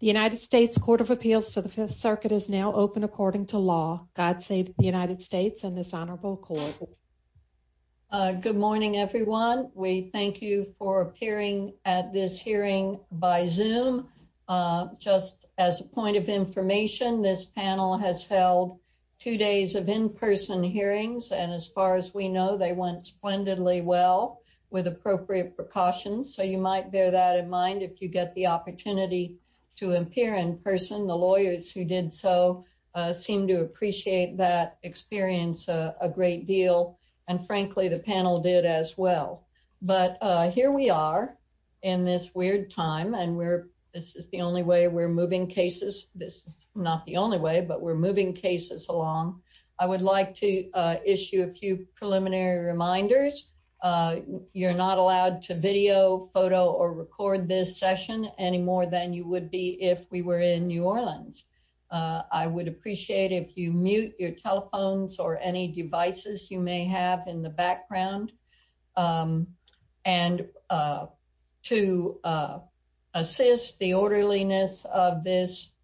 The United States Court of Appeals for the Fifth Circuit is now open according to law. God save the United States and this honorable court. Good morning, everyone. We thank you for appearing at this hearing by Zoom. Just as a point of information, this panel has held two days of in-person hearings. And as far as we know, they went splendidly well with appropriate precautions. So you might bear that in mind if you get the opportunity to appear in person. The lawyers who did so seem to appreciate that experience a great deal. And frankly, the panel did as well. But here we are in this weird time. And this is the only way we're moving cases. This is not the only way, but we're moving cases along. I would like to issue a few preliminary reminders. You're not allowed to video, photo, or record this session any more than you would be if we were in New Orleans. I would appreciate if you mute your telephones or any devices you may have in the background. And to assist the orderliness of this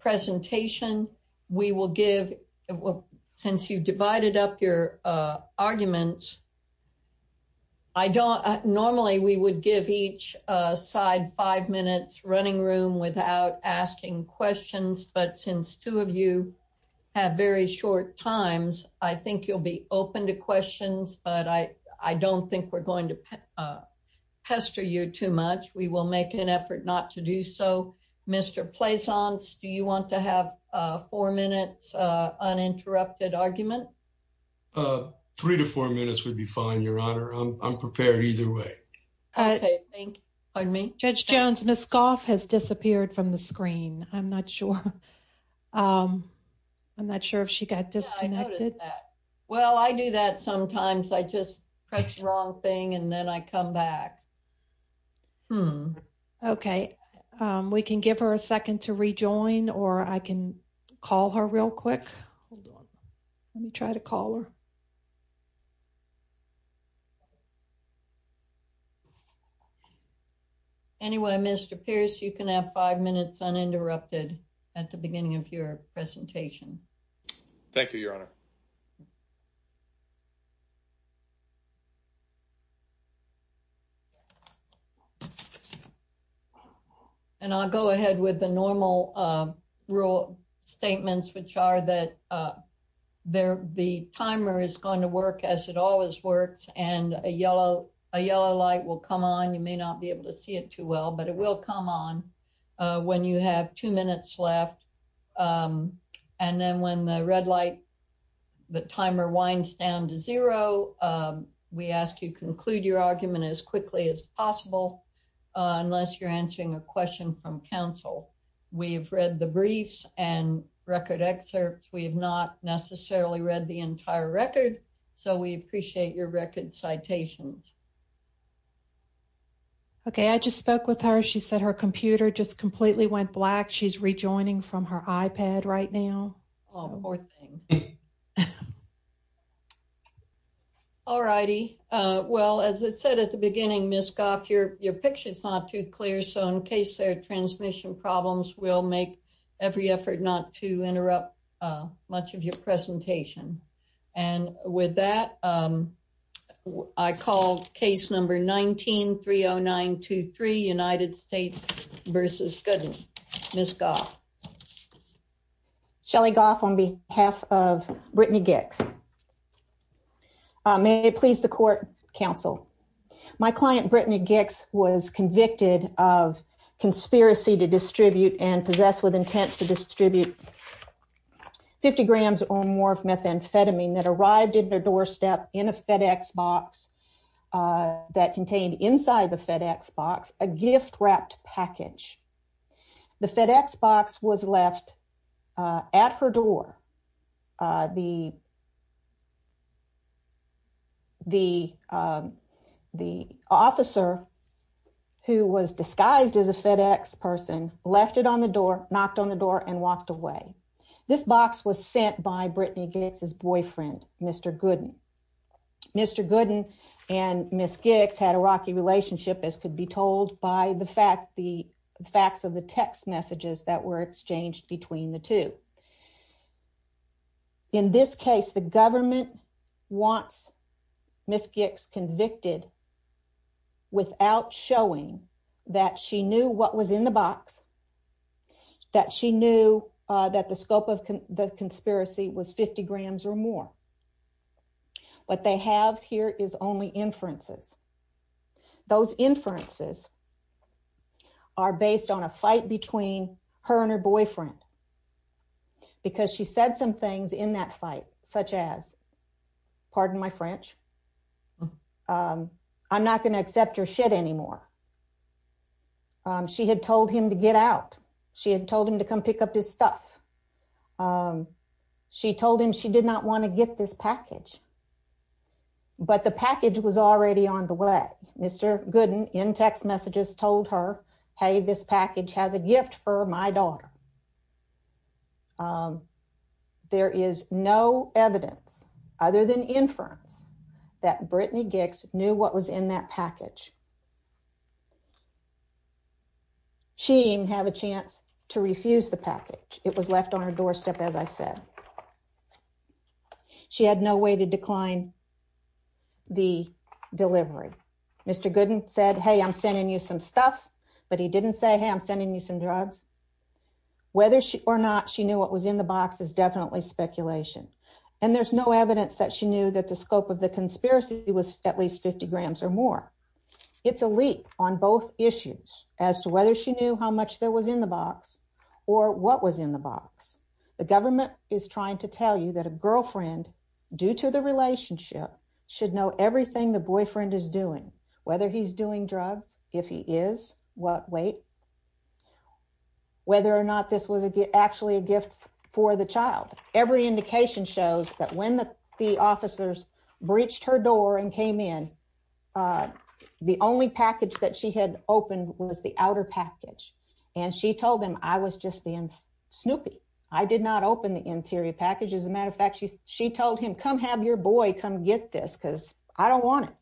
presentation, we will give, since you've divided up your arguments, normally we would give each side five minutes running room without asking questions. But since two of you have very short times, I think you'll be open to questions. But I don't think we're going to pester you too much. We will make an effort not to do so. Mr. Plaisance, do you want to have a four-minute uninterrupted argument? Three to four minutes would be fine, Your Honor. I'm prepared either way. Pardon me? Judge Jones, Ms. Goff has disappeared from the screen. I'm not sure. I'm not sure if she got disconnected. Well, I do that sometimes. I just press the wrong thing and then I come back. Hmm, okay. We can give her a second to rejoin or I can call her real quick. Let me try to call her. Anyway, Mr. Pierce, you can have five minutes uninterrupted at the beginning of your presentation. Thank you, Your Honor. And I'll go ahead with the normal rule statements, which are that the timer is going to work as it always works. And a yellow light will come on. You may not be able to see it too well, but it will come on when you have two minutes left. And then when the red light, the timer winds down to zero, we ask you conclude your argument as quickly as possible unless you're answering a question from counsel. We've read the briefs and record excerpts. We have not necessarily read the entire record. So we appreciate your record citations. Okay, I just spoke with her. She said her computer just completely went black. She's rejoining from her iPad right now. Oh, poor thing. All righty. Well, as I said at the beginning, Ms. Goff, your picture is not too clear. So in case there are transmission problems, we'll make every effort not to interrupt much of your presentation. And with that, I call case number 19-30923, United States versus Goodman. Ms. Goff. Shelley Goff on behalf of Brittany Gix. May it please the court, counsel. My client Brittany Gix was convicted of conspiracy to distribute and possess with intent to distribute 50 grams or more of methamphetamine that arrived at her doorstep in a FedEx box that contained inside the FedEx box a gift-wrapped package. The FedEx box was left at her door. The officer who was disguised as a FedEx person left it on the door, knocked on the door, and walked away. This box was sent by Brittany Gix's boyfriend, Mr. Gooden. Mr. Gooden and Ms. Gix had a rocky relationship as could be told by the facts of the text messages that were exchanged between the two. In this case, the government wants Ms. Gix convicted without showing that she knew what was in the box, that she knew that the scope of the conspiracy was 50 grams or more. What they have here is only inferences. Those inferences are based on a fight between her and her boyfriend because she said some things in that fight such as, pardon my French, I'm not going to accept your shit anymore. She had told him to get out. She had told him to come pick up his stuff. She told him she did not want to get this package, but the package was already on the way. Mr. Gooden, in text messages, told her, hey, this package has a gift for my daughter. Um, there is no evidence other than inference that Brittany Gix knew what was in that package. She didn't have a chance to refuse the package. It was left on her doorstep, as I said. She had no way to decline the delivery. Mr. Gooden said, hey, I'm sending you some stuff, but he didn't say, hey, I'm sending you some drugs. Whether or not she knew what was in the box is definitely speculation, and there's no evidence that she knew that the scope of the conspiracy was at least 50 grams or more. It's a leap on both issues as to whether she knew how much there was in the box or what was in the box. The government is trying to tell you that a girlfriend, due to the relationship, should know everything the boyfriend is doing, whether he's doing drugs, if he is, what weight. Whether or not this was actually a gift for the child. Every indication shows that when the officers breached her door and came in, the only package that she had opened was the outer package, and she told him I was just being snoopy. I did not open the interior package. As a matter of fact, she told him, come have your boy come get this because I don't want it.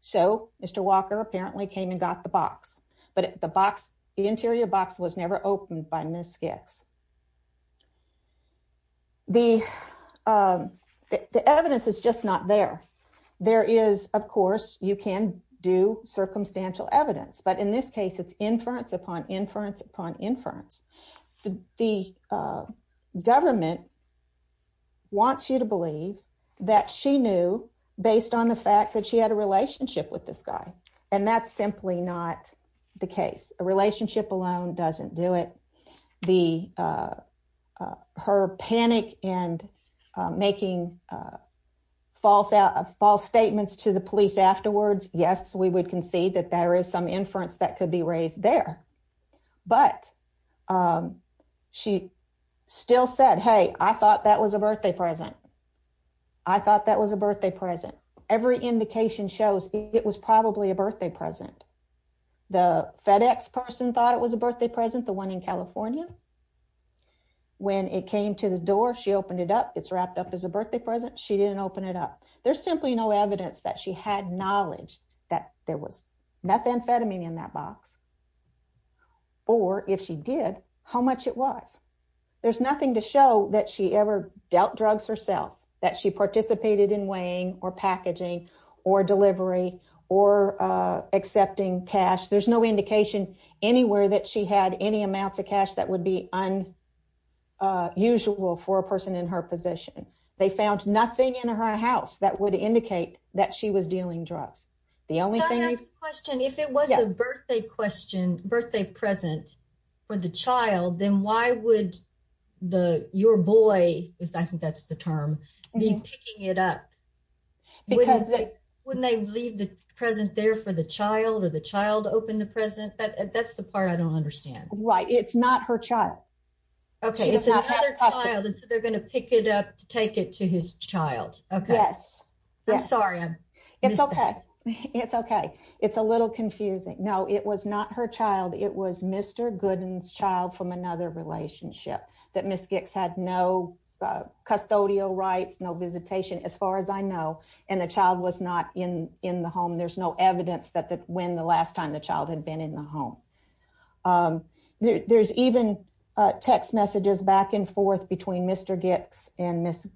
So Mr. Walker apparently came and got the box, but the box, the interior box was never opened by Ms. Gix. The evidence is just not there. There is, of course, you can do circumstantial evidence, but in this case, it's inference upon inference upon inference. The government wants you to believe that she knew based on the fact that she had a relationship with this guy, and that's simply not the case. A relationship alone doesn't do it. Her panic and making false statements to the police afterwards, yes, we would concede that there is some inference that could be raised there, but she still said, hey, I thought that was a birthday present. I thought that was a birthday present. Every indication shows it was probably a birthday present. The FedEx person thought it was a birthday present, the one in California. When it came to the door, she opened it up. It's wrapped up as a birthday present. She didn't open it up. There's simply no evidence that she had knowledge that there was methamphetamine in that box, or if she did, how much it was. There's nothing to show that she ever dealt drugs herself, that she participated in weighing, or packaging, or delivery, or accepting cash. There's no indication anywhere that she had any amounts of cash that would be unusual for a person in her position. They found nothing in her house that would indicate that she was dealing drugs. The only thing- Can I ask a question? If it was a birthday present for the child, then why would your boy, I think that's the term, be picking it up? Wouldn't they leave the present there for the child, or the child open the present? That's the part I don't understand. Right. It's not her child. Okay. It's another child, and so they're going to pick it up to take it to his child. Okay. Yes. I'm sorry. It's okay. It's okay. It's a little confusing. No, it was not her child. It was Mr. Gooden's child from another relationship that Ms. Gicks had no custodial rights, no visitation, as far as I know, and the child was not in the home. There's no evidence that when the last time the child had been in the home. There's even text messages back and forth between Mr. Gooden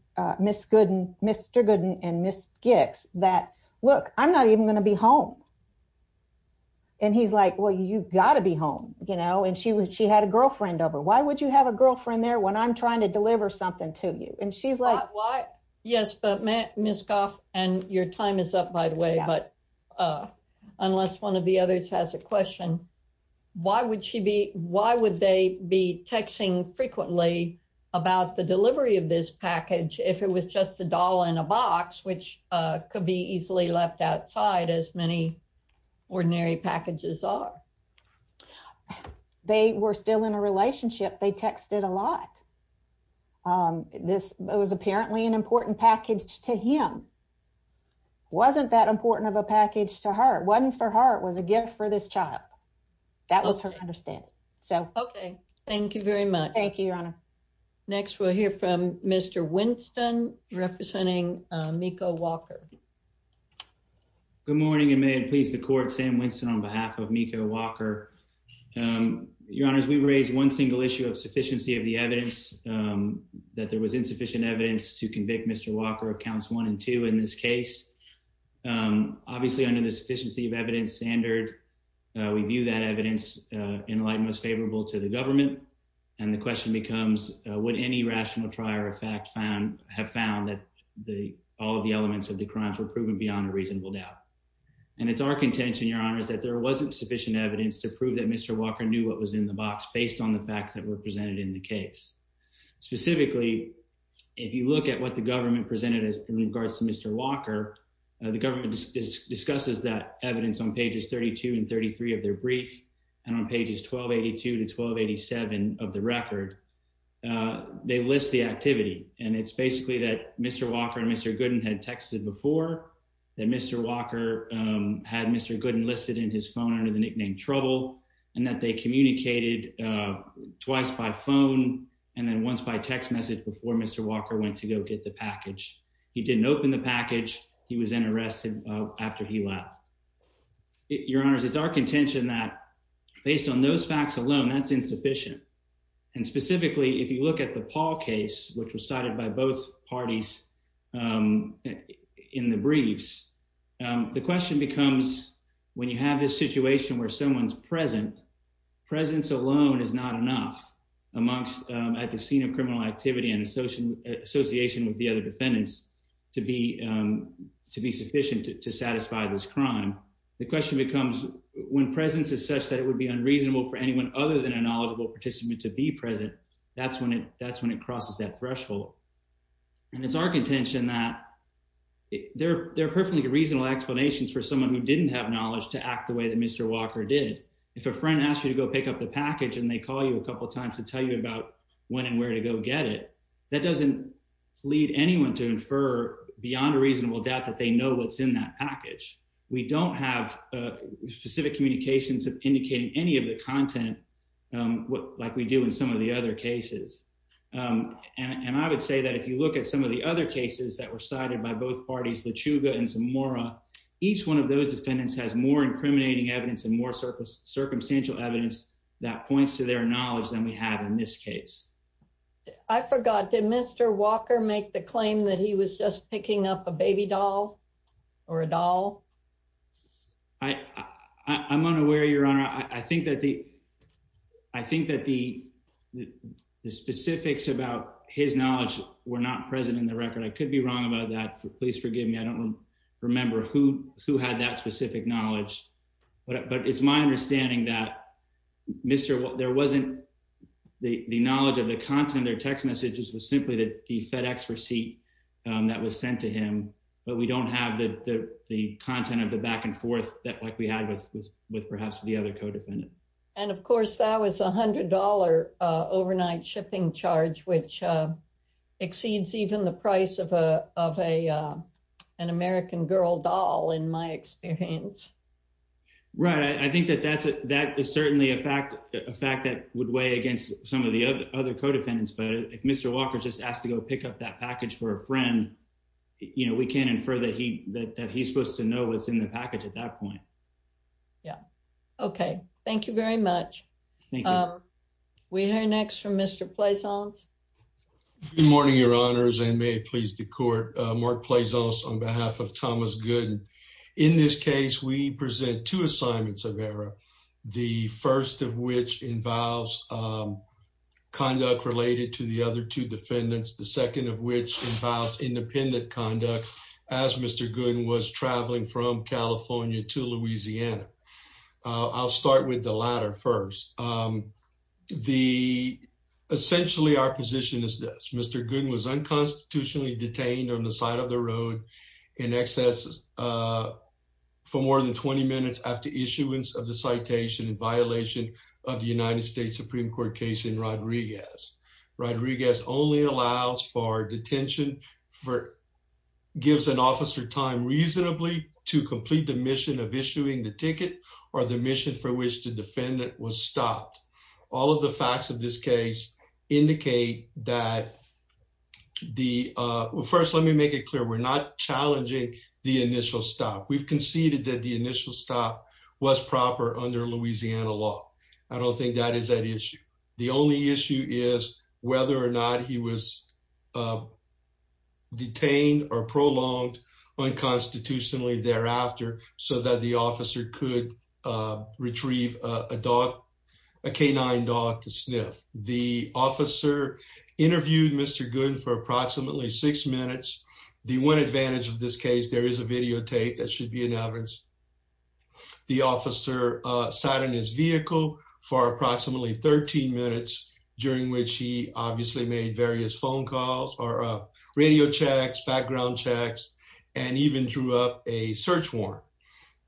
and Ms. Gicks that, look, I'm not even going to be home. And he's like, well, you've got to be home, you know, and she had a girlfriend over. Why would you have a girlfriend there when I'm trying to deliver something to you? And she's like- Why? Yes, but Ms. Goff, and your time is up, by the way, but unless one of the others has a question, why would she be, why would they be texting frequently about the delivery of this package if it was just a doll in a box, which could be easily left outside as many ordinary packages are? They were still in a relationship. They texted a lot. This was apparently an important package to him. Wasn't that important of a package to her? Wasn't for her, it was a gift for this child. That was her understanding, so. Okay, thank you very much. Thank you, Your Honor. Next, we'll hear from Mr. Winston representing Meiko Walker. Good morning, and may it please the court, Sam Winston, on behalf of Meiko Walker. Your Honors, we raised one single issue of sufficiency of the evidence that there was insufficient evidence to convict Mr. Walker of counts one and two in this case. Obviously, under the sufficiency of evidence standard, we view that evidence in light most favorable to the government, would any rational trier of fact found, have found that all of the elements of the crimes were proven beyond a reasonable doubt. And it's our contention, Your Honors, that there wasn't sufficient evidence to prove that Mr. Walker knew what was in the box based on the facts that were presented in the case. Specifically, if you look at what the government presented in regards to Mr. Walker, the government discusses that evidence on pages 32 and 33 of their brief, and on pages 1282 to 1287 of the record, they list the activity. And it's basically that Mr. Walker and Mr. Gooden had texted before that Mr. Walker had Mr. Gooden listed in his phone under the nickname Trouble, and that they communicated twice by phone, and then once by text message before Mr. Walker went to go get the package. He didn't open the package. He was interested after he left. Your Honors, it's our contention that based on those facts alone, that's insufficient. And specifically, if you look at the Paul case, which was cited by both parties in the briefs, the question becomes, when you have this situation where someone's present, presence alone is not enough at the scene of criminal activity and association with the other defendants to be sufficient to satisfy this crime. The question becomes, when presence is such that it would be unreasonable for anyone other than a knowledgeable participant to be present, that's when it crosses that threshold. And it's our contention that there are perfectly reasonable explanations for someone who didn't have knowledge to act the way that Mr. Walker did. If a friend asked you to go pick up the package and they call you a couple of times to tell you about when and where to go get it, that doesn't lead anyone to infer beyond a reasonable doubt that they know what's in that package. We don't have specific communications indicating any of the content like we do in some of the other cases. And I would say that if you look at some of the other cases that were cited by both parties, LaChuga and Zamora, each one of those defendants has more incriminating evidence and more circumstantial evidence that points to their knowledge than we have in this case. I forgot, did Mr. Walker make the claim that he was just picking up a baby doll or a doll? I'm unaware, Your Honor. I think that the specifics about his knowledge were not present in the record. I could be wrong about that. Please forgive me. I don't remember who had that specific knowledge. But it's my understanding that, there wasn't the knowledge of the content of their text messages was simply that the FedEx receipt that was sent to him, but we don't have the content of the back and forth that like we had with perhaps the other co-defendant. And of course, that was $100 overnight shipping charge, which exceeds even the price of an American girl doll, in my experience. Right, I think that is certainly a fact that would weigh against some of the other co-defendants. But if Mr. Walker just asked to go pick up that package for a friend, we can't infer that he's supposed to know what's in the package at that point. Yeah, okay. Thank you very much. We hear next from Mr. Plaisance. Good morning, your honors, and may it please the court. Mark Plaisance on behalf of Thomas Gooden. In this case, we present two assignments of error. The first of which involves conduct related to the other two defendants. The second of which involves independent conduct, as Mr. Gooden was traveling from California to Louisiana. I'll start with the latter first. Essentially, our position is this. Mr. Gooden was unconstitutionally detained on the side of the road in excess for more than 20 minutes after issuance of the citation in violation of the United States Supreme Court case in Rodriguez. Rodriguez only allows for detention, for gives an officer time reasonably to complete the mission of issuing the ticket or the mission for which the defendant was stopped. All of the facts of this case indicate that the... First, let me make it clear. We're not challenging the initial stop. We've conceded that the initial stop was proper under Louisiana law. I don't think that is that issue. The only issue is whether or not he was detained or prolonged unconstitutionally thereafter so that the officer could retrieve a canine dog to sniff. The officer interviewed Mr. Gooden for approximately six minutes. The one advantage of this case, there is a videotape that should be in evidence. The officer sat in his vehicle for approximately 13 minutes during which he obviously made various phone calls or radio checks, background checks, and even drew up a search warrant.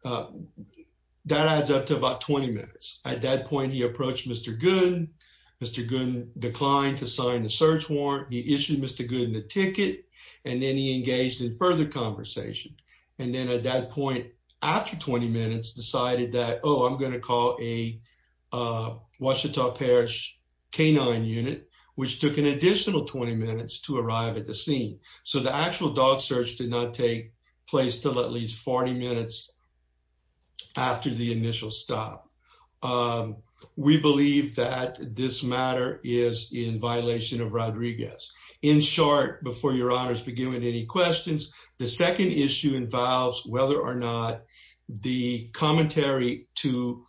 That adds up to about 20 minutes. At that point, he approached Mr. Gooden. Mr. Gooden declined to sign the search warrant. He issued Mr. Gooden a ticket, and then he engaged in further conversation. And then at that point, after 20 minutes, decided that, oh, I'm going to call a canine unit, which took an additional 20 minutes to arrive at the scene. So the actual dog search did not take place till at least 40 minutes after the initial stop. We believe that this matter is in violation of Rodriguez. In short, before your honors begin with any questions, the second issue involves whether or not the commentary to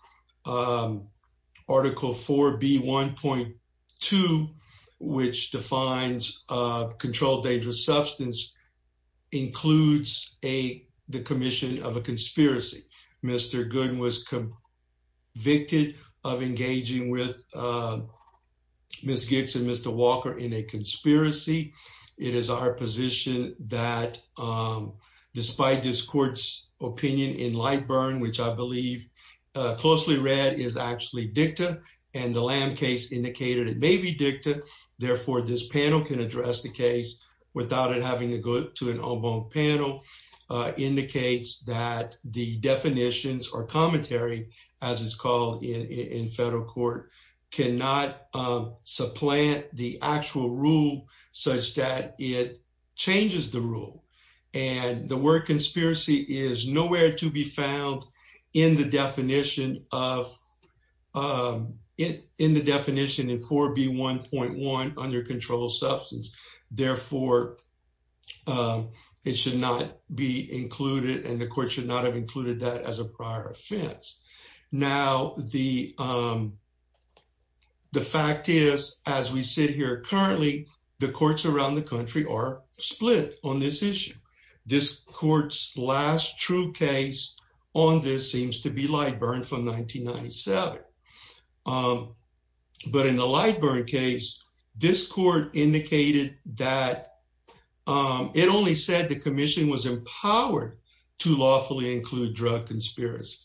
Article 4B1.2, which defines controlled dangerous substance, includes the commission of a conspiracy. Mr. Gooden was convicted of engaging with Ms. Giggs and Mr. Walker in a conspiracy. It is our position that despite this court's opinion in Lightburn, which I believe closely read is actually dicta, and the Lamb case indicated it may be dicta, therefore this panel can address the case without it having to go to an en banc panel, indicates that the definitions or commentary, as it's called in federal court, cannot supplant the actual rule such that it changes the rule. And the word conspiracy is nowhere to be found in the definition of, in the definition in 4B1.1 under controlled substance. Therefore, it should not be included and the court should not have included that as a prior offense. Now, the fact is, as we sit here currently, the courts around the country are split on this issue. This court's last true case on this seems to be Lightburn from 1997. But in the Lightburn case, this court indicated that it only said the commission was empowered to lawfully include drug conspiracy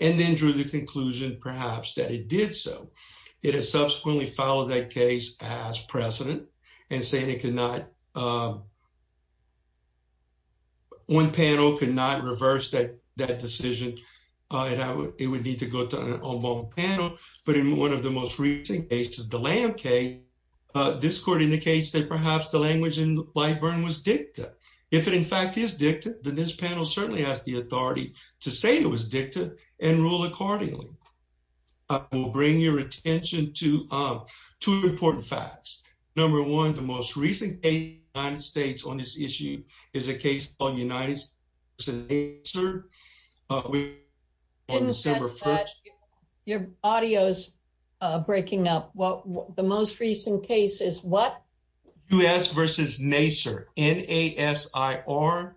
and then drew the conclusion, perhaps, that it did so. It has subsequently filed that case as precedent and saying it could not, one panel could not reverse that decision. It would need to go to an en banc panel. But in one of the most recent cases, the Lamb case, this court indicates that perhaps the language in Lightburn was dicta. If it in fact is dicta, then this panel certainly has the authority to say it was dicta and rule accordingly. I will bring your attention to two important facts. Number one, the most recent case in the United States on this issue is a case called United States v. Nasser on December 1st. In the sense that your audio's breaking up. Well, the most recent case is what? U.S. v. Nasser, N-A-S-S-I-R.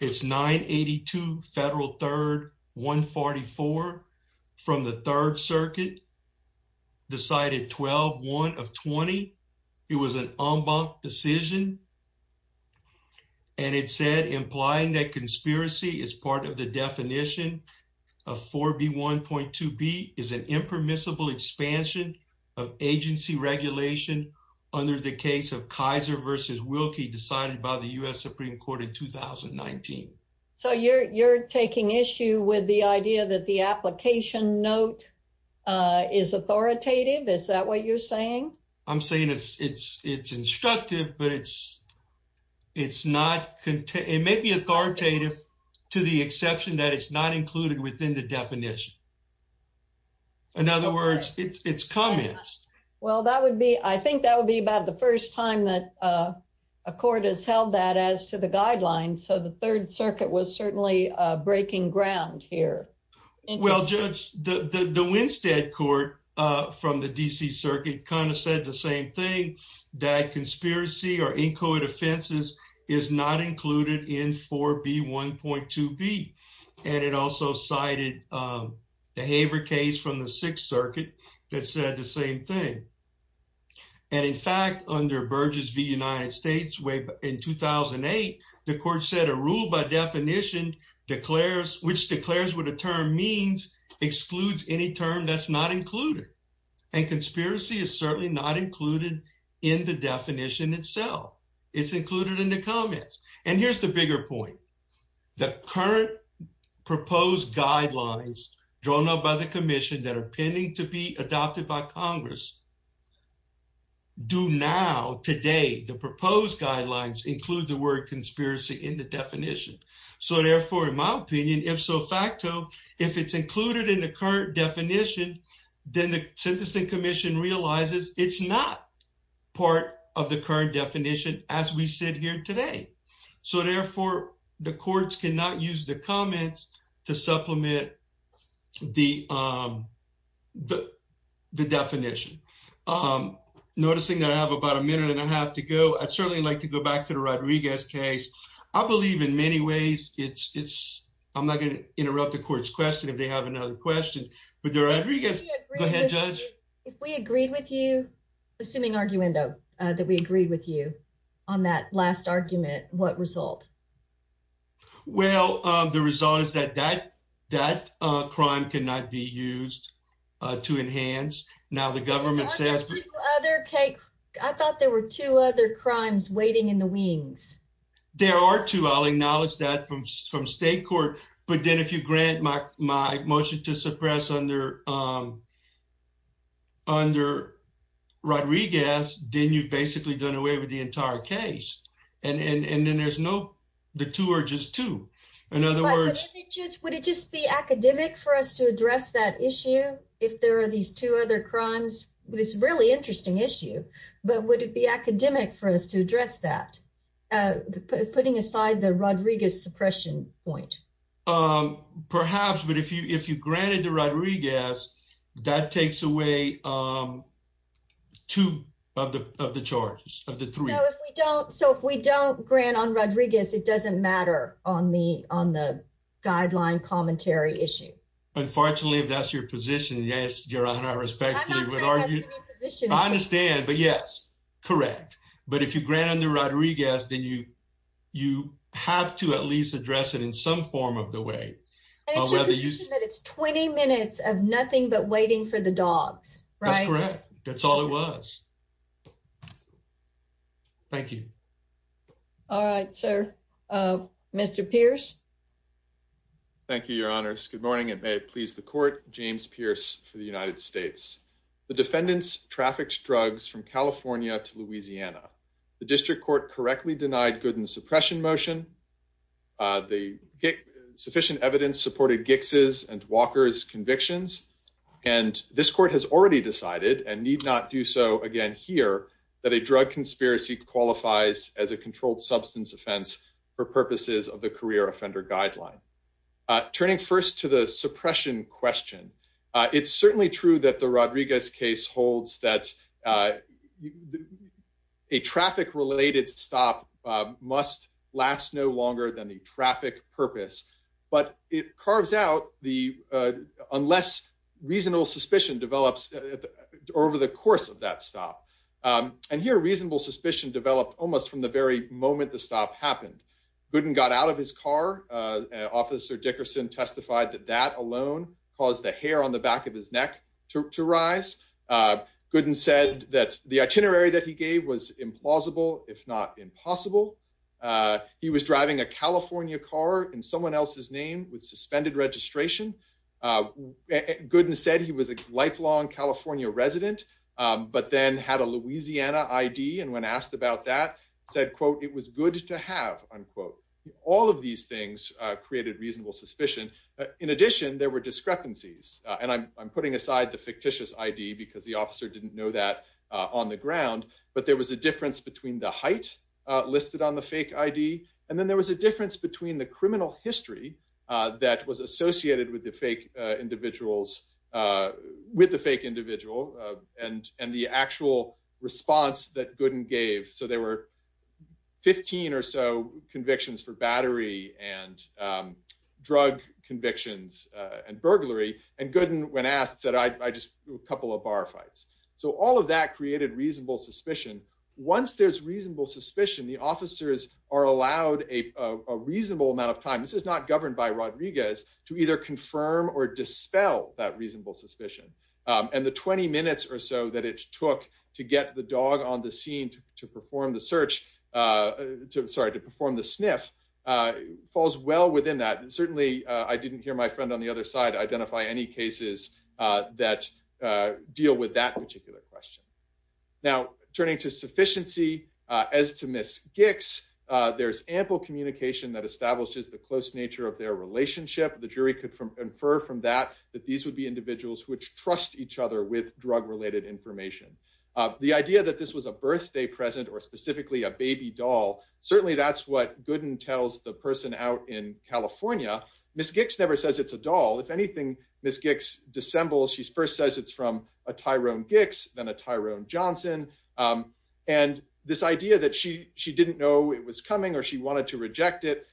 It's 982 Federal 3rd 144 from the Third Circuit. Decided 12-1 of 20. It was an en banc decision. And it said implying that conspiracy is part of the definition of 4B1.2b is an impermissible expansion of agency regulation under the case of Kaiser v. Wilkie decided by the U.S. Supreme Court in 2019. So you're taking issue with the idea that the application note is authoritative. Is that what you're saying? I'm saying it's instructive, but it may be authoritative to the exception that it's not included within the definition. In other words, it's comments. Well, I think that would be about the first time that a court has held that as to the guidelines. So the Third Circuit was certainly breaking ground here. Well, Judge, the Winstead Court from the D.C. Circuit kind of said the same thing that conspiracy or inchoate offenses is not included in 4B1.2b. And it also cited the Haver case from the Sixth Circuit that said the same thing. And in fact, under Burgess v. United States way back in 2008, the court said a rule by definition declares, which declares what a term means, excludes any term that's not included. And conspiracy is certainly not included in the definition itself. It's included in the comments. And here's the bigger point. The current proposed guidelines drawn up by the commission that are pending to be adopted by Congress do now today, the proposed guidelines include the word conspiracy in the definition. So therefore, in my opinion, if so facto, if it's included in the current definition, then the Sentencing Commission realizes it's not part of the current definition as we sit here today. So therefore, the courts cannot use the comments to supplement the definition. Noticing that I have about a minute and a half to go, I'd certainly like to go back to the Rodriguez case. I believe in many ways, it's, I'm not gonna interrupt the court's question if they have another question. But the Rodriguez, go ahead, Judge. If we agreed with you, assuming arguendo, that we agreed with you on that last argument, what result? Well, the result is that, that crime cannot be used to enhance. Now the government says, I thought there were two other crimes waiting in the wings. There are two. I'll acknowledge that from state court. But then if you grant my motion to suppress under Rodriguez, then you've basically done away with the entire case. And then there's no, the two are just two. In other words- Would it just be academic for us to address that issue? If there are these two other crimes, it's really interesting issue. But would it be academic for us to address that? Putting aside the Rodriguez suppression point. Perhaps, but if you granted the Rodriguez, that takes away two of the charges, of the three. So if we don't grant on Rodriguez, it doesn't matter on the guideline commentary issue. Unfortunately, if that's your position, yes, Your Honor, respectfully. I'm not saying that's any position. I understand, but yes, correct. But if you grant under Rodriguez, then you have to at least address it in some form of the way. And it's your position that it's 20 minutes of nothing but waiting for the dogs, right? That's correct. That's all it was. Thank you. All right, sir. Mr. Pierce. Thank you, Your Honors. Good morning and may it please the court. James Pierce for the United States. The defendants trafficked drugs from California to Louisiana. The district court correctly denied good and suppression motion. The sufficient evidence supported Gix's and Walker's convictions. And this court has already decided and need not do so again here, that a drug conspiracy qualifies as a controlled substance offense for purposes of the career offender guideline. Turning first to the suppression question. It's certainly true that the Rodriguez case holds that a traffic related stop must last no longer than the traffic purpose. But it carves out the, unless reasonable suspicion develops over the course of that stop. And here reasonable suspicion developed almost from the very moment the stop happened. Gooden got out of his car. Officer Dickerson testified that that alone caused the hair on the back of his neck to rise. Gooden said that the itinerary that he gave was implausible, if not impossible. He was driving a California car in someone else's name with suspended registration. Gooden said he was a lifelong California resident, but then had a Louisiana ID. And when asked about that, said, quote, it was good to have, unquote. All of these things created reasonable suspicion. In addition, there were discrepancies. And I'm putting aside the fictitious ID because the officer didn't know that on the ground. But there was a difference between the height listed on the fake ID. And then there was a difference between the criminal history that was associated with the fake individuals, with the fake individual and the actual response that Gooden gave. So there were 15 or so convictions for battery and drug convictions and burglary. And Gooden, when asked, said, I just do a couple of bar fights. So all of that created reasonable suspicion. Once there's reasonable suspicion, the officers are allowed a reasonable amount of time. This is not governed by Rodriguez to either confirm or dispel that reasonable suspicion. And the 20 minutes or so that it took to get the dog on the scene to perform the search, sorry, to perform the sniff falls well within that. Certainly, I didn't hear my friend on the other side identify any cases that deal with that particular question. Now, turning to sufficiency, as to Ms. Gicks, there's ample communication that establishes the close nature of their relationship. The jury could infer from that that these would be individuals which trust each other with drug-related information. The idea that this was a birthday present or specifically a baby doll, certainly that's what Gooden tells the person out in California. Ms. Gicks never says it's a doll. If anything, Ms. Gicks dissembles, she first says it's from a Tyrone Gicks, then a Tyrone Johnson. And this idea that she didn't know it was coming or she wanted to reject it,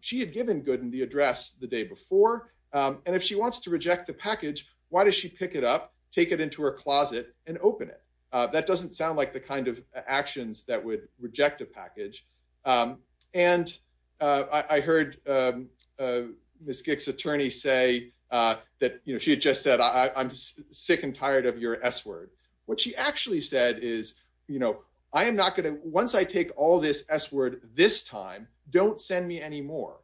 she had given Gooden the address the day before. And if she wants to reject the package, why does she pick it up, take it into her closet and open it? That doesn't sound like the kind of actions that would reject a package. And I heard Ms. Gicks' attorney say that she had just said, I'm sick and tired of your S-word. What she actually said is, I am not gonna, once I take all this S-word this time, don't send me any more.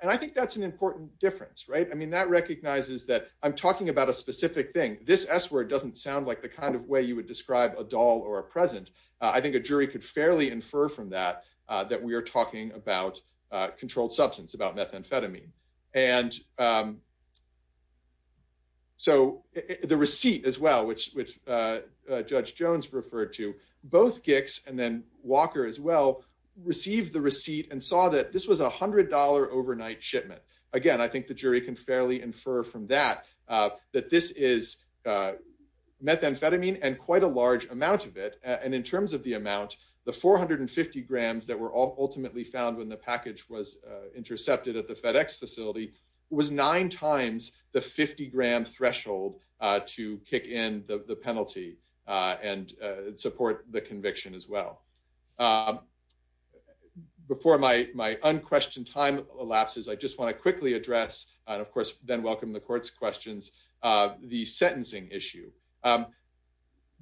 And I think that's an important difference, right? I mean, that recognizes that I'm talking about a specific thing. This S-word doesn't sound like the kind of way you would describe a doll or a present. I think a jury could fairly infer from that that we are talking about controlled substance, about methamphetamine. And so the receipt as well, which Judge Jones referred to, both Gicks and then Walker as well, received the receipt and saw that this was $100 overnight shipment. Again, I think the jury can fairly infer from that, that this is methamphetamine and quite a large amount of it. And in terms of the amount, the 450 grams that were ultimately found when the package was intercepted at the FedEx facility was nine times the 50 gram threshold to kick in the penalty and support the conviction as well. Before my unquestioned time elapses, I just wanna quickly address, and of course then welcome the court's questions, the sentencing issue.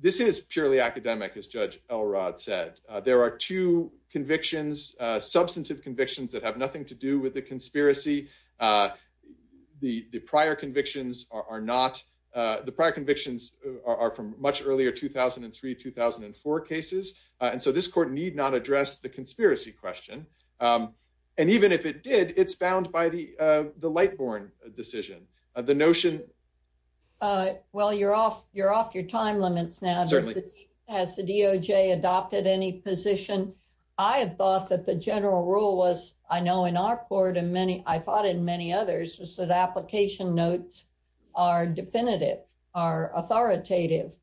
This is purely academic, as Judge Elrod said. There are two convictions, substantive convictions that have nothing to do with the conspiracy. The prior convictions are not, the prior convictions are from much earlier 2003, 2004 cases. And so this court need not address the conspiracy question. And even if it did, it's bound by the Lightborn decision. The notion... Well, you're off your time limits now. Certainly. Has the DOJ adopted any position? I had thought that the general rule was, I know in our court and many, I thought in many others, was that application notes are definitive, are authoritative,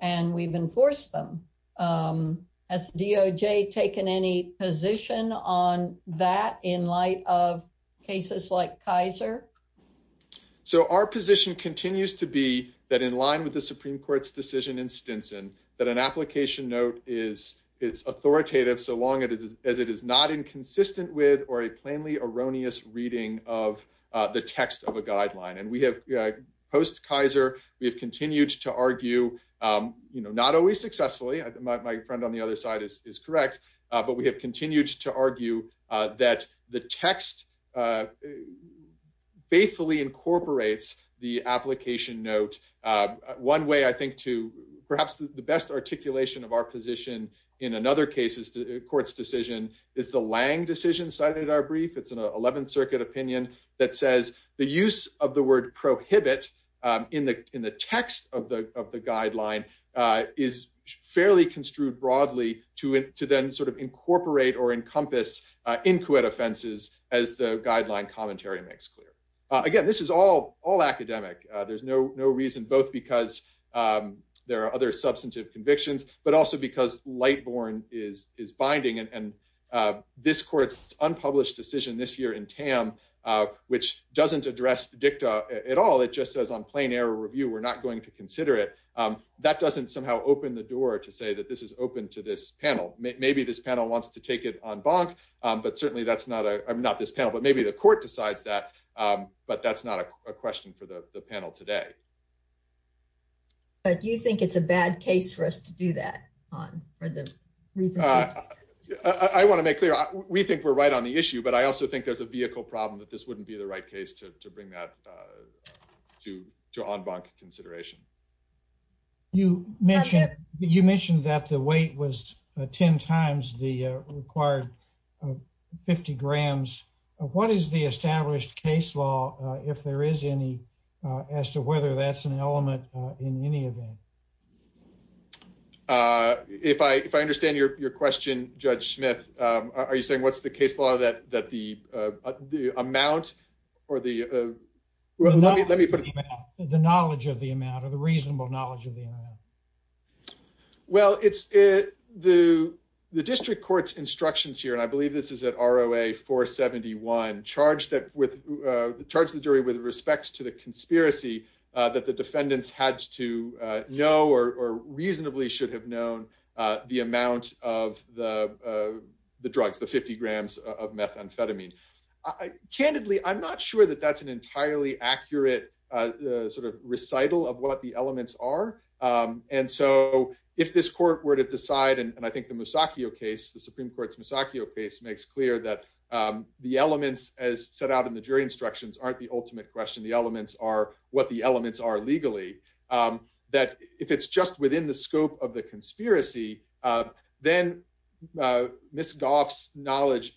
and we've enforced them. Has DOJ taken any position on that in light of cases like Kaiser? So our position continues to be that in line with the Supreme Court's decision in Stinson, that an application note is authoritative so long as it is not inconsistent with, or a plainly erroneous reading of the text of a guideline. And we have, post-Kaiser, we have continued to argue, my friend on the other side is correct, but we have continued to argue that the text faithfully incorporates the application note. One way, I think, to perhaps the best articulation of our position in another case is the court's decision is the Lange decision cited in our brief. It's an 11th Circuit opinion that says the use of the word prohibit in the text of the guideline is fairly construed broadly to then sort of incorporate or encompass inquit offenses as the guideline commentary makes clear. Again, this is all academic. There's no reason, both because there are other substantive convictions, but also because Lightborne is binding. And this court's unpublished decision this year in Tam, which doesn't address the dicta at all, it just says on plain error review, we're not going to consider it. That doesn't somehow open the door to say that this is open to this panel. Maybe this panel wants to take it en banc, but certainly that's not, I mean, not this panel, but maybe the court decides that, but that's not a question for the panel today. But you think it's a bad case for us to do that? I want to make clear, we think we're right on the issue, but I also think there's a vehicle problem that this wouldn't be the right case to bring that to en banc consideration. You mentioned that the weight was 10 times the required 50 grams. What is the established case law, if there is any, as to whether that's an element in any event? If I understand your question, Judge Smith, are you saying what's the case law that the amount or the... Let me put it... The knowledge of the amount or the reasonable knowledge of the amount. Well, the district court's instructions here, and I believe this is at ROA 471, charged the jury with respects to the conspiracy that the defendants had to know or reasonably should have known the amount of the drugs, the 50 grams of methamphetamine. Candidly, I'm not sure that that's an entirely accurate recital of what the elements are. And so if this court were to decide, and I think the Musacchio case, the Supreme Court's Musacchio case makes clear that the elements as set out in the jury instructions aren't the ultimate question. The elements are what the elements are legally. That if it's just within the scope of the conspiracy, then Ms. Goff's knowledge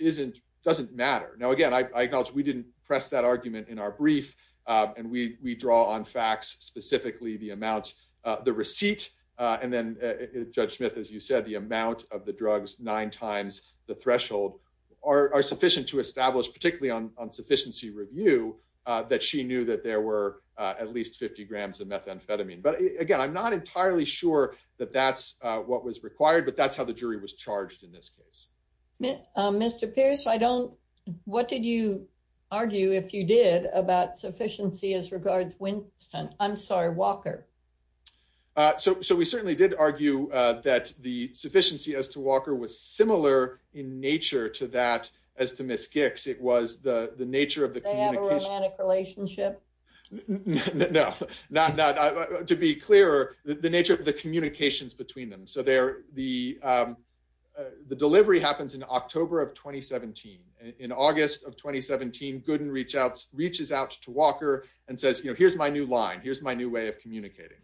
doesn't matter. Now, again, I acknowledge we didn't press that argument in our brief, and we draw on facts, specifically the amount, the receipt, and then Judge Smith, as you said, the amount of the drugs, nine times the threshold are sufficient to establish, particularly on sufficiency review, that she knew that there were at least 50 grams of methamphetamine. But again, I'm not entirely sure that that's what was required, but that's how the jury was charged in this case. Mr. Pierce, I don't, what did you argue if you did about sufficiency as regards Winston, I'm sorry, Walker? So we certainly did argue that the sufficiency as to Walker was similar in nature to that, as to Ms. Gicks, it was the nature of the communication. Did they have a romantic relationship? No, to be clearer, the nature of the communications between them. So the delivery happens in October of 2017. In August of 2017, Gooden reaches out to Walker and says, here's my new line, here's my new way of communicating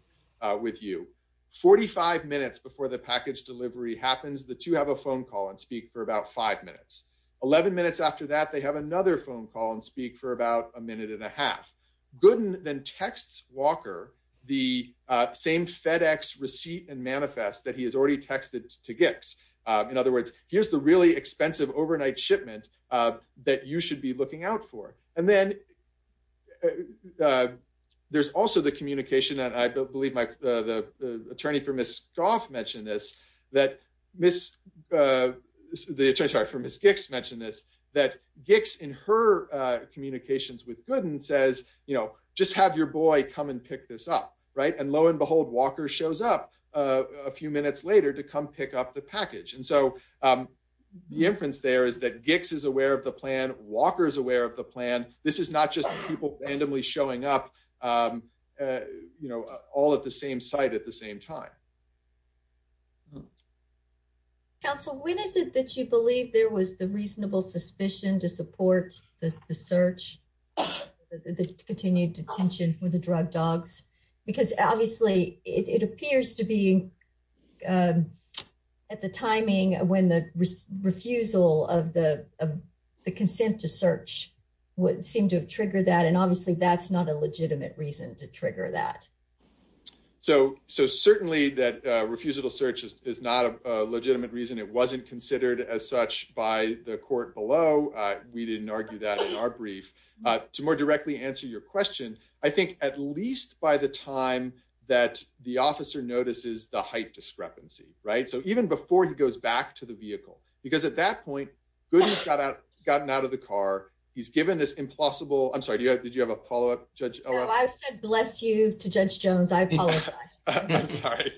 with you. 45 minutes before the package delivery happens, the two have a phone call and speak for about five minutes. 11 minutes after that, they have another phone call and speak for about a minute and a half. Gooden then texts Walker the same FedEx receipt and manifest that he has already texted to Gicks. In other words, here's the really expensive overnight shipment that you should be looking out for. And then there's also the communication that I believe the attorney for Ms. Goff mentioned this, that Ms., the attorney, sorry, for Ms. Gicks mentioned this, that Gicks in her communications with Gooden says, you know, just have your boy come and pick this up, right? And lo and behold, Walker shows up a few minutes later to come pick up the package. And so the inference there is that Gicks is aware of the plan, Walker is aware of the plan. This is not just people randomly showing up, you know, all at the same site at the same time. Counsel, when is it that you believe there was the reasonable suspicion to support the search, the continued detention with the drug dogs? Because obviously it appears to be at the timing when the refusal of the consent to search would seem to have triggered that. And obviously that's not a legitimate reason to trigger that. So certainly that refusal to search is not a legitimate reason. It wasn't considered as such by the court below. We didn't argue that in our brief. To more directly answer your question, I think at least by the time that the officer notices the height discrepancy, right? So even before he goes back to the vehicle, because at that point, Gooden has gotten out of the car. He's given this implausible, I'm sorry, did you have a follow-up, Judge Ella? No, I said bless you to Judge Jones. I apologize. I'm sorry.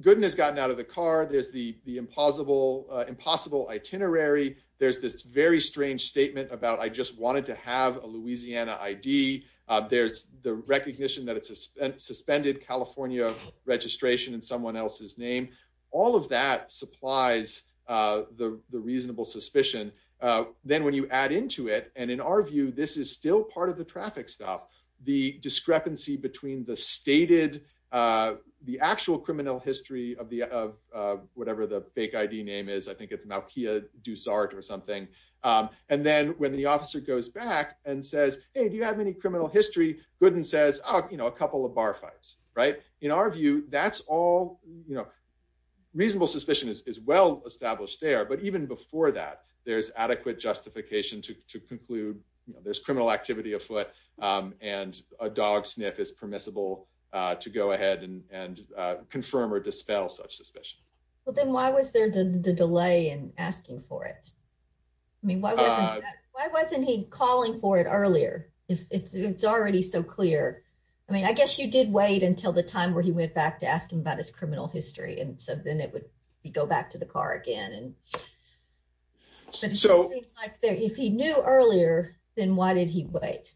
Gooden has gotten out of the car. There's the impossible itinerary. There's this very strange statement about I just wanted to have a Louisiana ID. There's the recognition that it's a suspended California registration in someone else's name. All of that supplies the reasonable suspicion. Then when you add into it, and in our view, this is still part of the traffic stuff, the discrepancy between the stated, the actual criminal history of whatever the fake ID name is, I think it's Malkia Dussart or something. And then when the officer goes back and says, hey, do you have any criminal history? Gooden says, oh, a couple of bar fights, right? In our view, that's all, reasonable suspicion is well established there. But even before that, there's adequate justification to conclude there's criminal activity afoot and a dog sniff is permissible to go ahead and confirm or dispel such suspicion. Well, then why was there the delay in asking for it? I mean, why wasn't he calling for it earlier if it's already so clear? I mean, I guess you did wait until the time where he went back to ask him about his criminal history. And so then it would be go back to the car again. And so it seems like if he knew earlier, then why did he wait?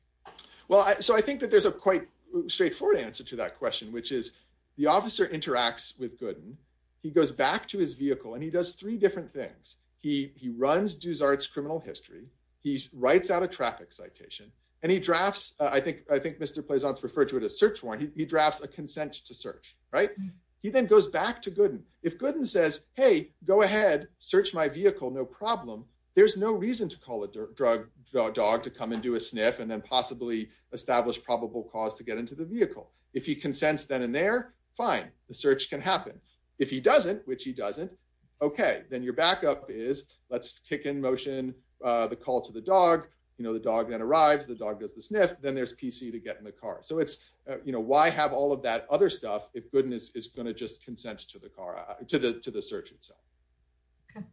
Well, so I think that there's a quite straightforward answer to that question, which is the officer interacts with Gooden. He goes back to his vehicle and he does three different things. He runs Duzart's criminal history, he writes out a traffic citation and he drafts, I think Mr. Pleasant referred to it as search warrant. He drafts a consent to search, right? He then goes back to Gooden. If Gooden says, hey, go ahead, search my vehicle, no problem. There's no reason to call a dog to come and do a sniff and then possibly establish probable cause to get into the vehicle. If he consents then and there, fine. The search can happen. If he doesn't, which he doesn't, okay. Then your backup is let's kick in motion, the call to the dog, the dog then arrives, the dog does the sniff, then there's PC to get in the car. So it's, why have all of that other stuff if Gooden is gonna just consent to the car, to the search itself? Okay.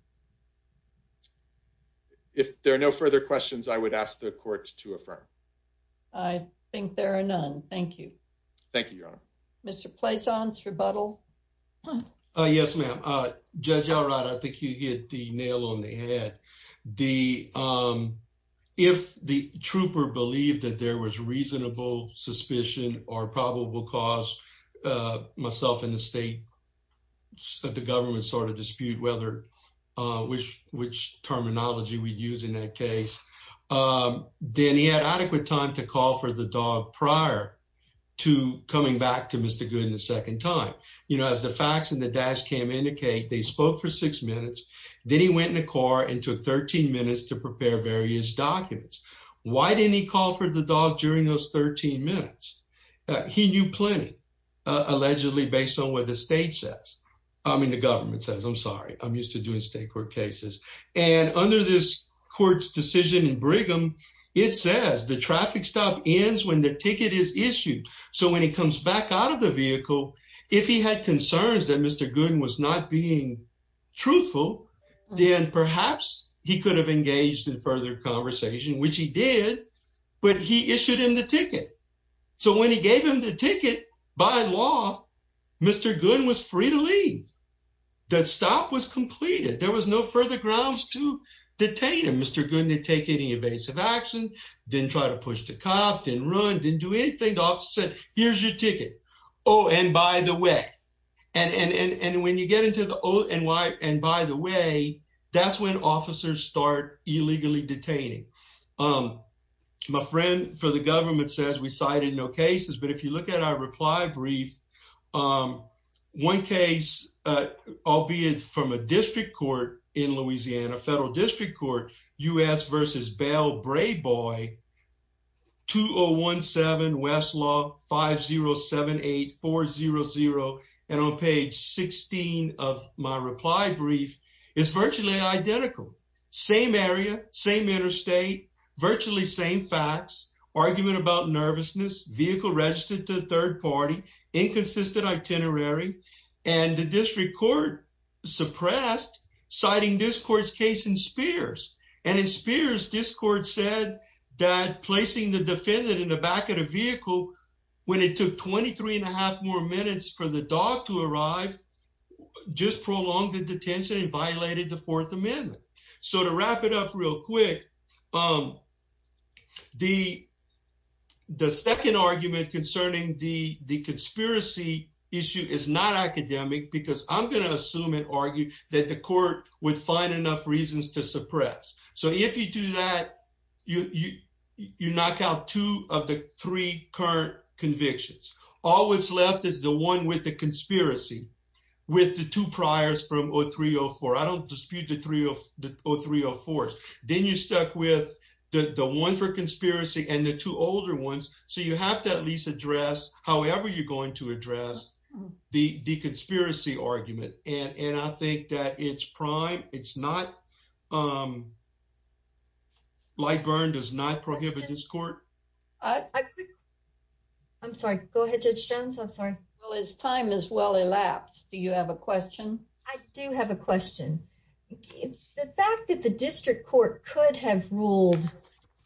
If there are no further questions, I would ask the court to affirm. I think there are none, thank you. Thank you, Your Honor. Mr. Pleasant's rebuttal. Yes, ma'am. Judge Alright, I think you hit the nail on the head. If the trooper believed that there was reasonable suspicion or probable cause, myself and the state, the government sort of dispute which terminology we'd use in that case, then he had adequate time to call for the dog prior to coming back to Mr. Gooden the second time. As the facts in the dash cam indicate, they spoke for six minutes, then he went in the car and took 13 minutes to prepare various documents. Why didn't he call for the dog during those 13 minutes? He knew plenty, allegedly based on what the state says. I mean, the government says, I'm sorry, I'm used to doing state court cases. And under this court's decision in Brigham, it says the traffic stop ends when the ticket is issued. So when he comes back out of the vehicle, if he had concerns that Mr. Gooden was not being truthful, then perhaps he could have engaged in further conversation, which he did, but he issued him the ticket. So when he gave him the ticket, by law, Mr. Gooden was free to leave. The stop was completed. There was no further grounds to detain him. Mr. Gooden didn't take any evasive action, didn't try to push the cop, didn't run, didn't do anything. The officer said, here's your ticket. Oh, and by the way, and when you get into the, oh, and why, and by the way, that's when officers start illegally detaining. My friend for the government says we cited no cases, but if you look at our reply brief, one case, albeit from a district court in Louisiana, federal district court, U.S. versus Bell, Brayboy, on page 16 of my reply brief, it's virtually identical, same area, same interstate, virtually same facts, argument about nervousness, vehicle registered to third party, inconsistent itinerary, and the district court suppressed citing this court's case in Spears. And in Spears, this court said that placing the defendant in the back of the vehicle when it took 23 and a half more minutes for the dog to arrive, just prolonged the detention and violated the fourth amendment. So to wrap it up real quick, the second argument concerning the conspiracy issue is not academic because I'm going to assume that the court would find enough reasons to suppress. So if you do that, you knock out two of the three current convictions. All what's left is the one with the conspiracy with the two priors from 03-04. I don't dispute the 03-04s. Then you stuck with the one for conspiracy and the two older ones. So you have to at least address however you're going to address the conspiracy argument and I think that it's prime. Light burn does not prohibit this court. I'm sorry, go ahead Judge Jones. I'm sorry. Well, his time is well elapsed. Do you have a question? I do have a question. The fact that the district court could have ruled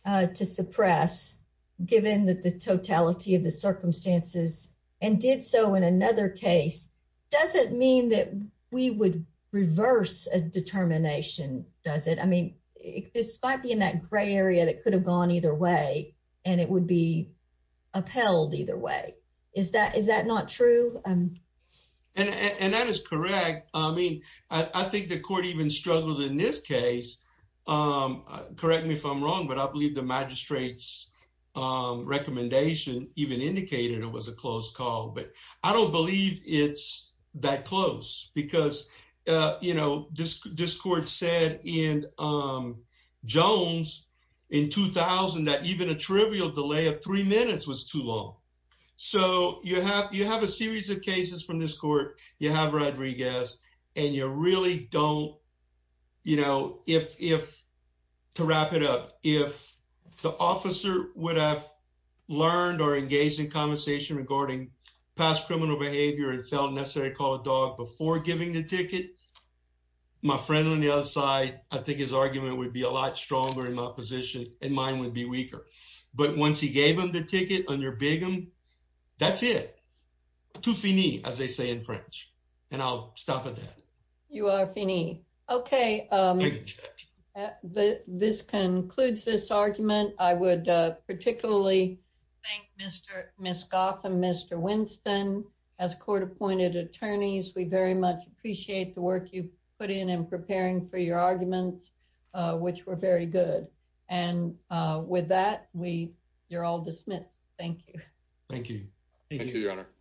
to suppress given that the totality of the circumstances and did so in another case doesn't mean that we would reverse a determination, does it? I mean, this might be in that gray area that could have gone either way and it would be upheld either way. Is that not true? And that is correct. I mean, I think the court even struggled in this case. Correct me if I'm wrong but I believe the magistrate's recommendation even indicated it was a closed call but I don't believe it's that close because this court said in Jones in 2000 that even a trivial delay of three minutes was too long. So you have a series of cases from this court. You have Rodriguez and you really don't... To wrap it up, if the officer would have learned or engaged in conversation regarding past criminal behavior and felt necessary to call a dog before giving the ticket, my friend on the other side, I think his argument would be a lot stronger in my position and mine would be weaker. But once he gave him the ticket on your bigum, that's it. Tout fini, as they say in French. And I'll stop at that. You are fini. Okay, this concludes this argument. I would particularly thank Ms. Gotham, Mr. Winston. As court appointed attorneys, we very much appreciate the work you put in in preparing for your arguments, which were very good. And with that, you're all dismissed. Thank you. Thank you. Thank you, your honor.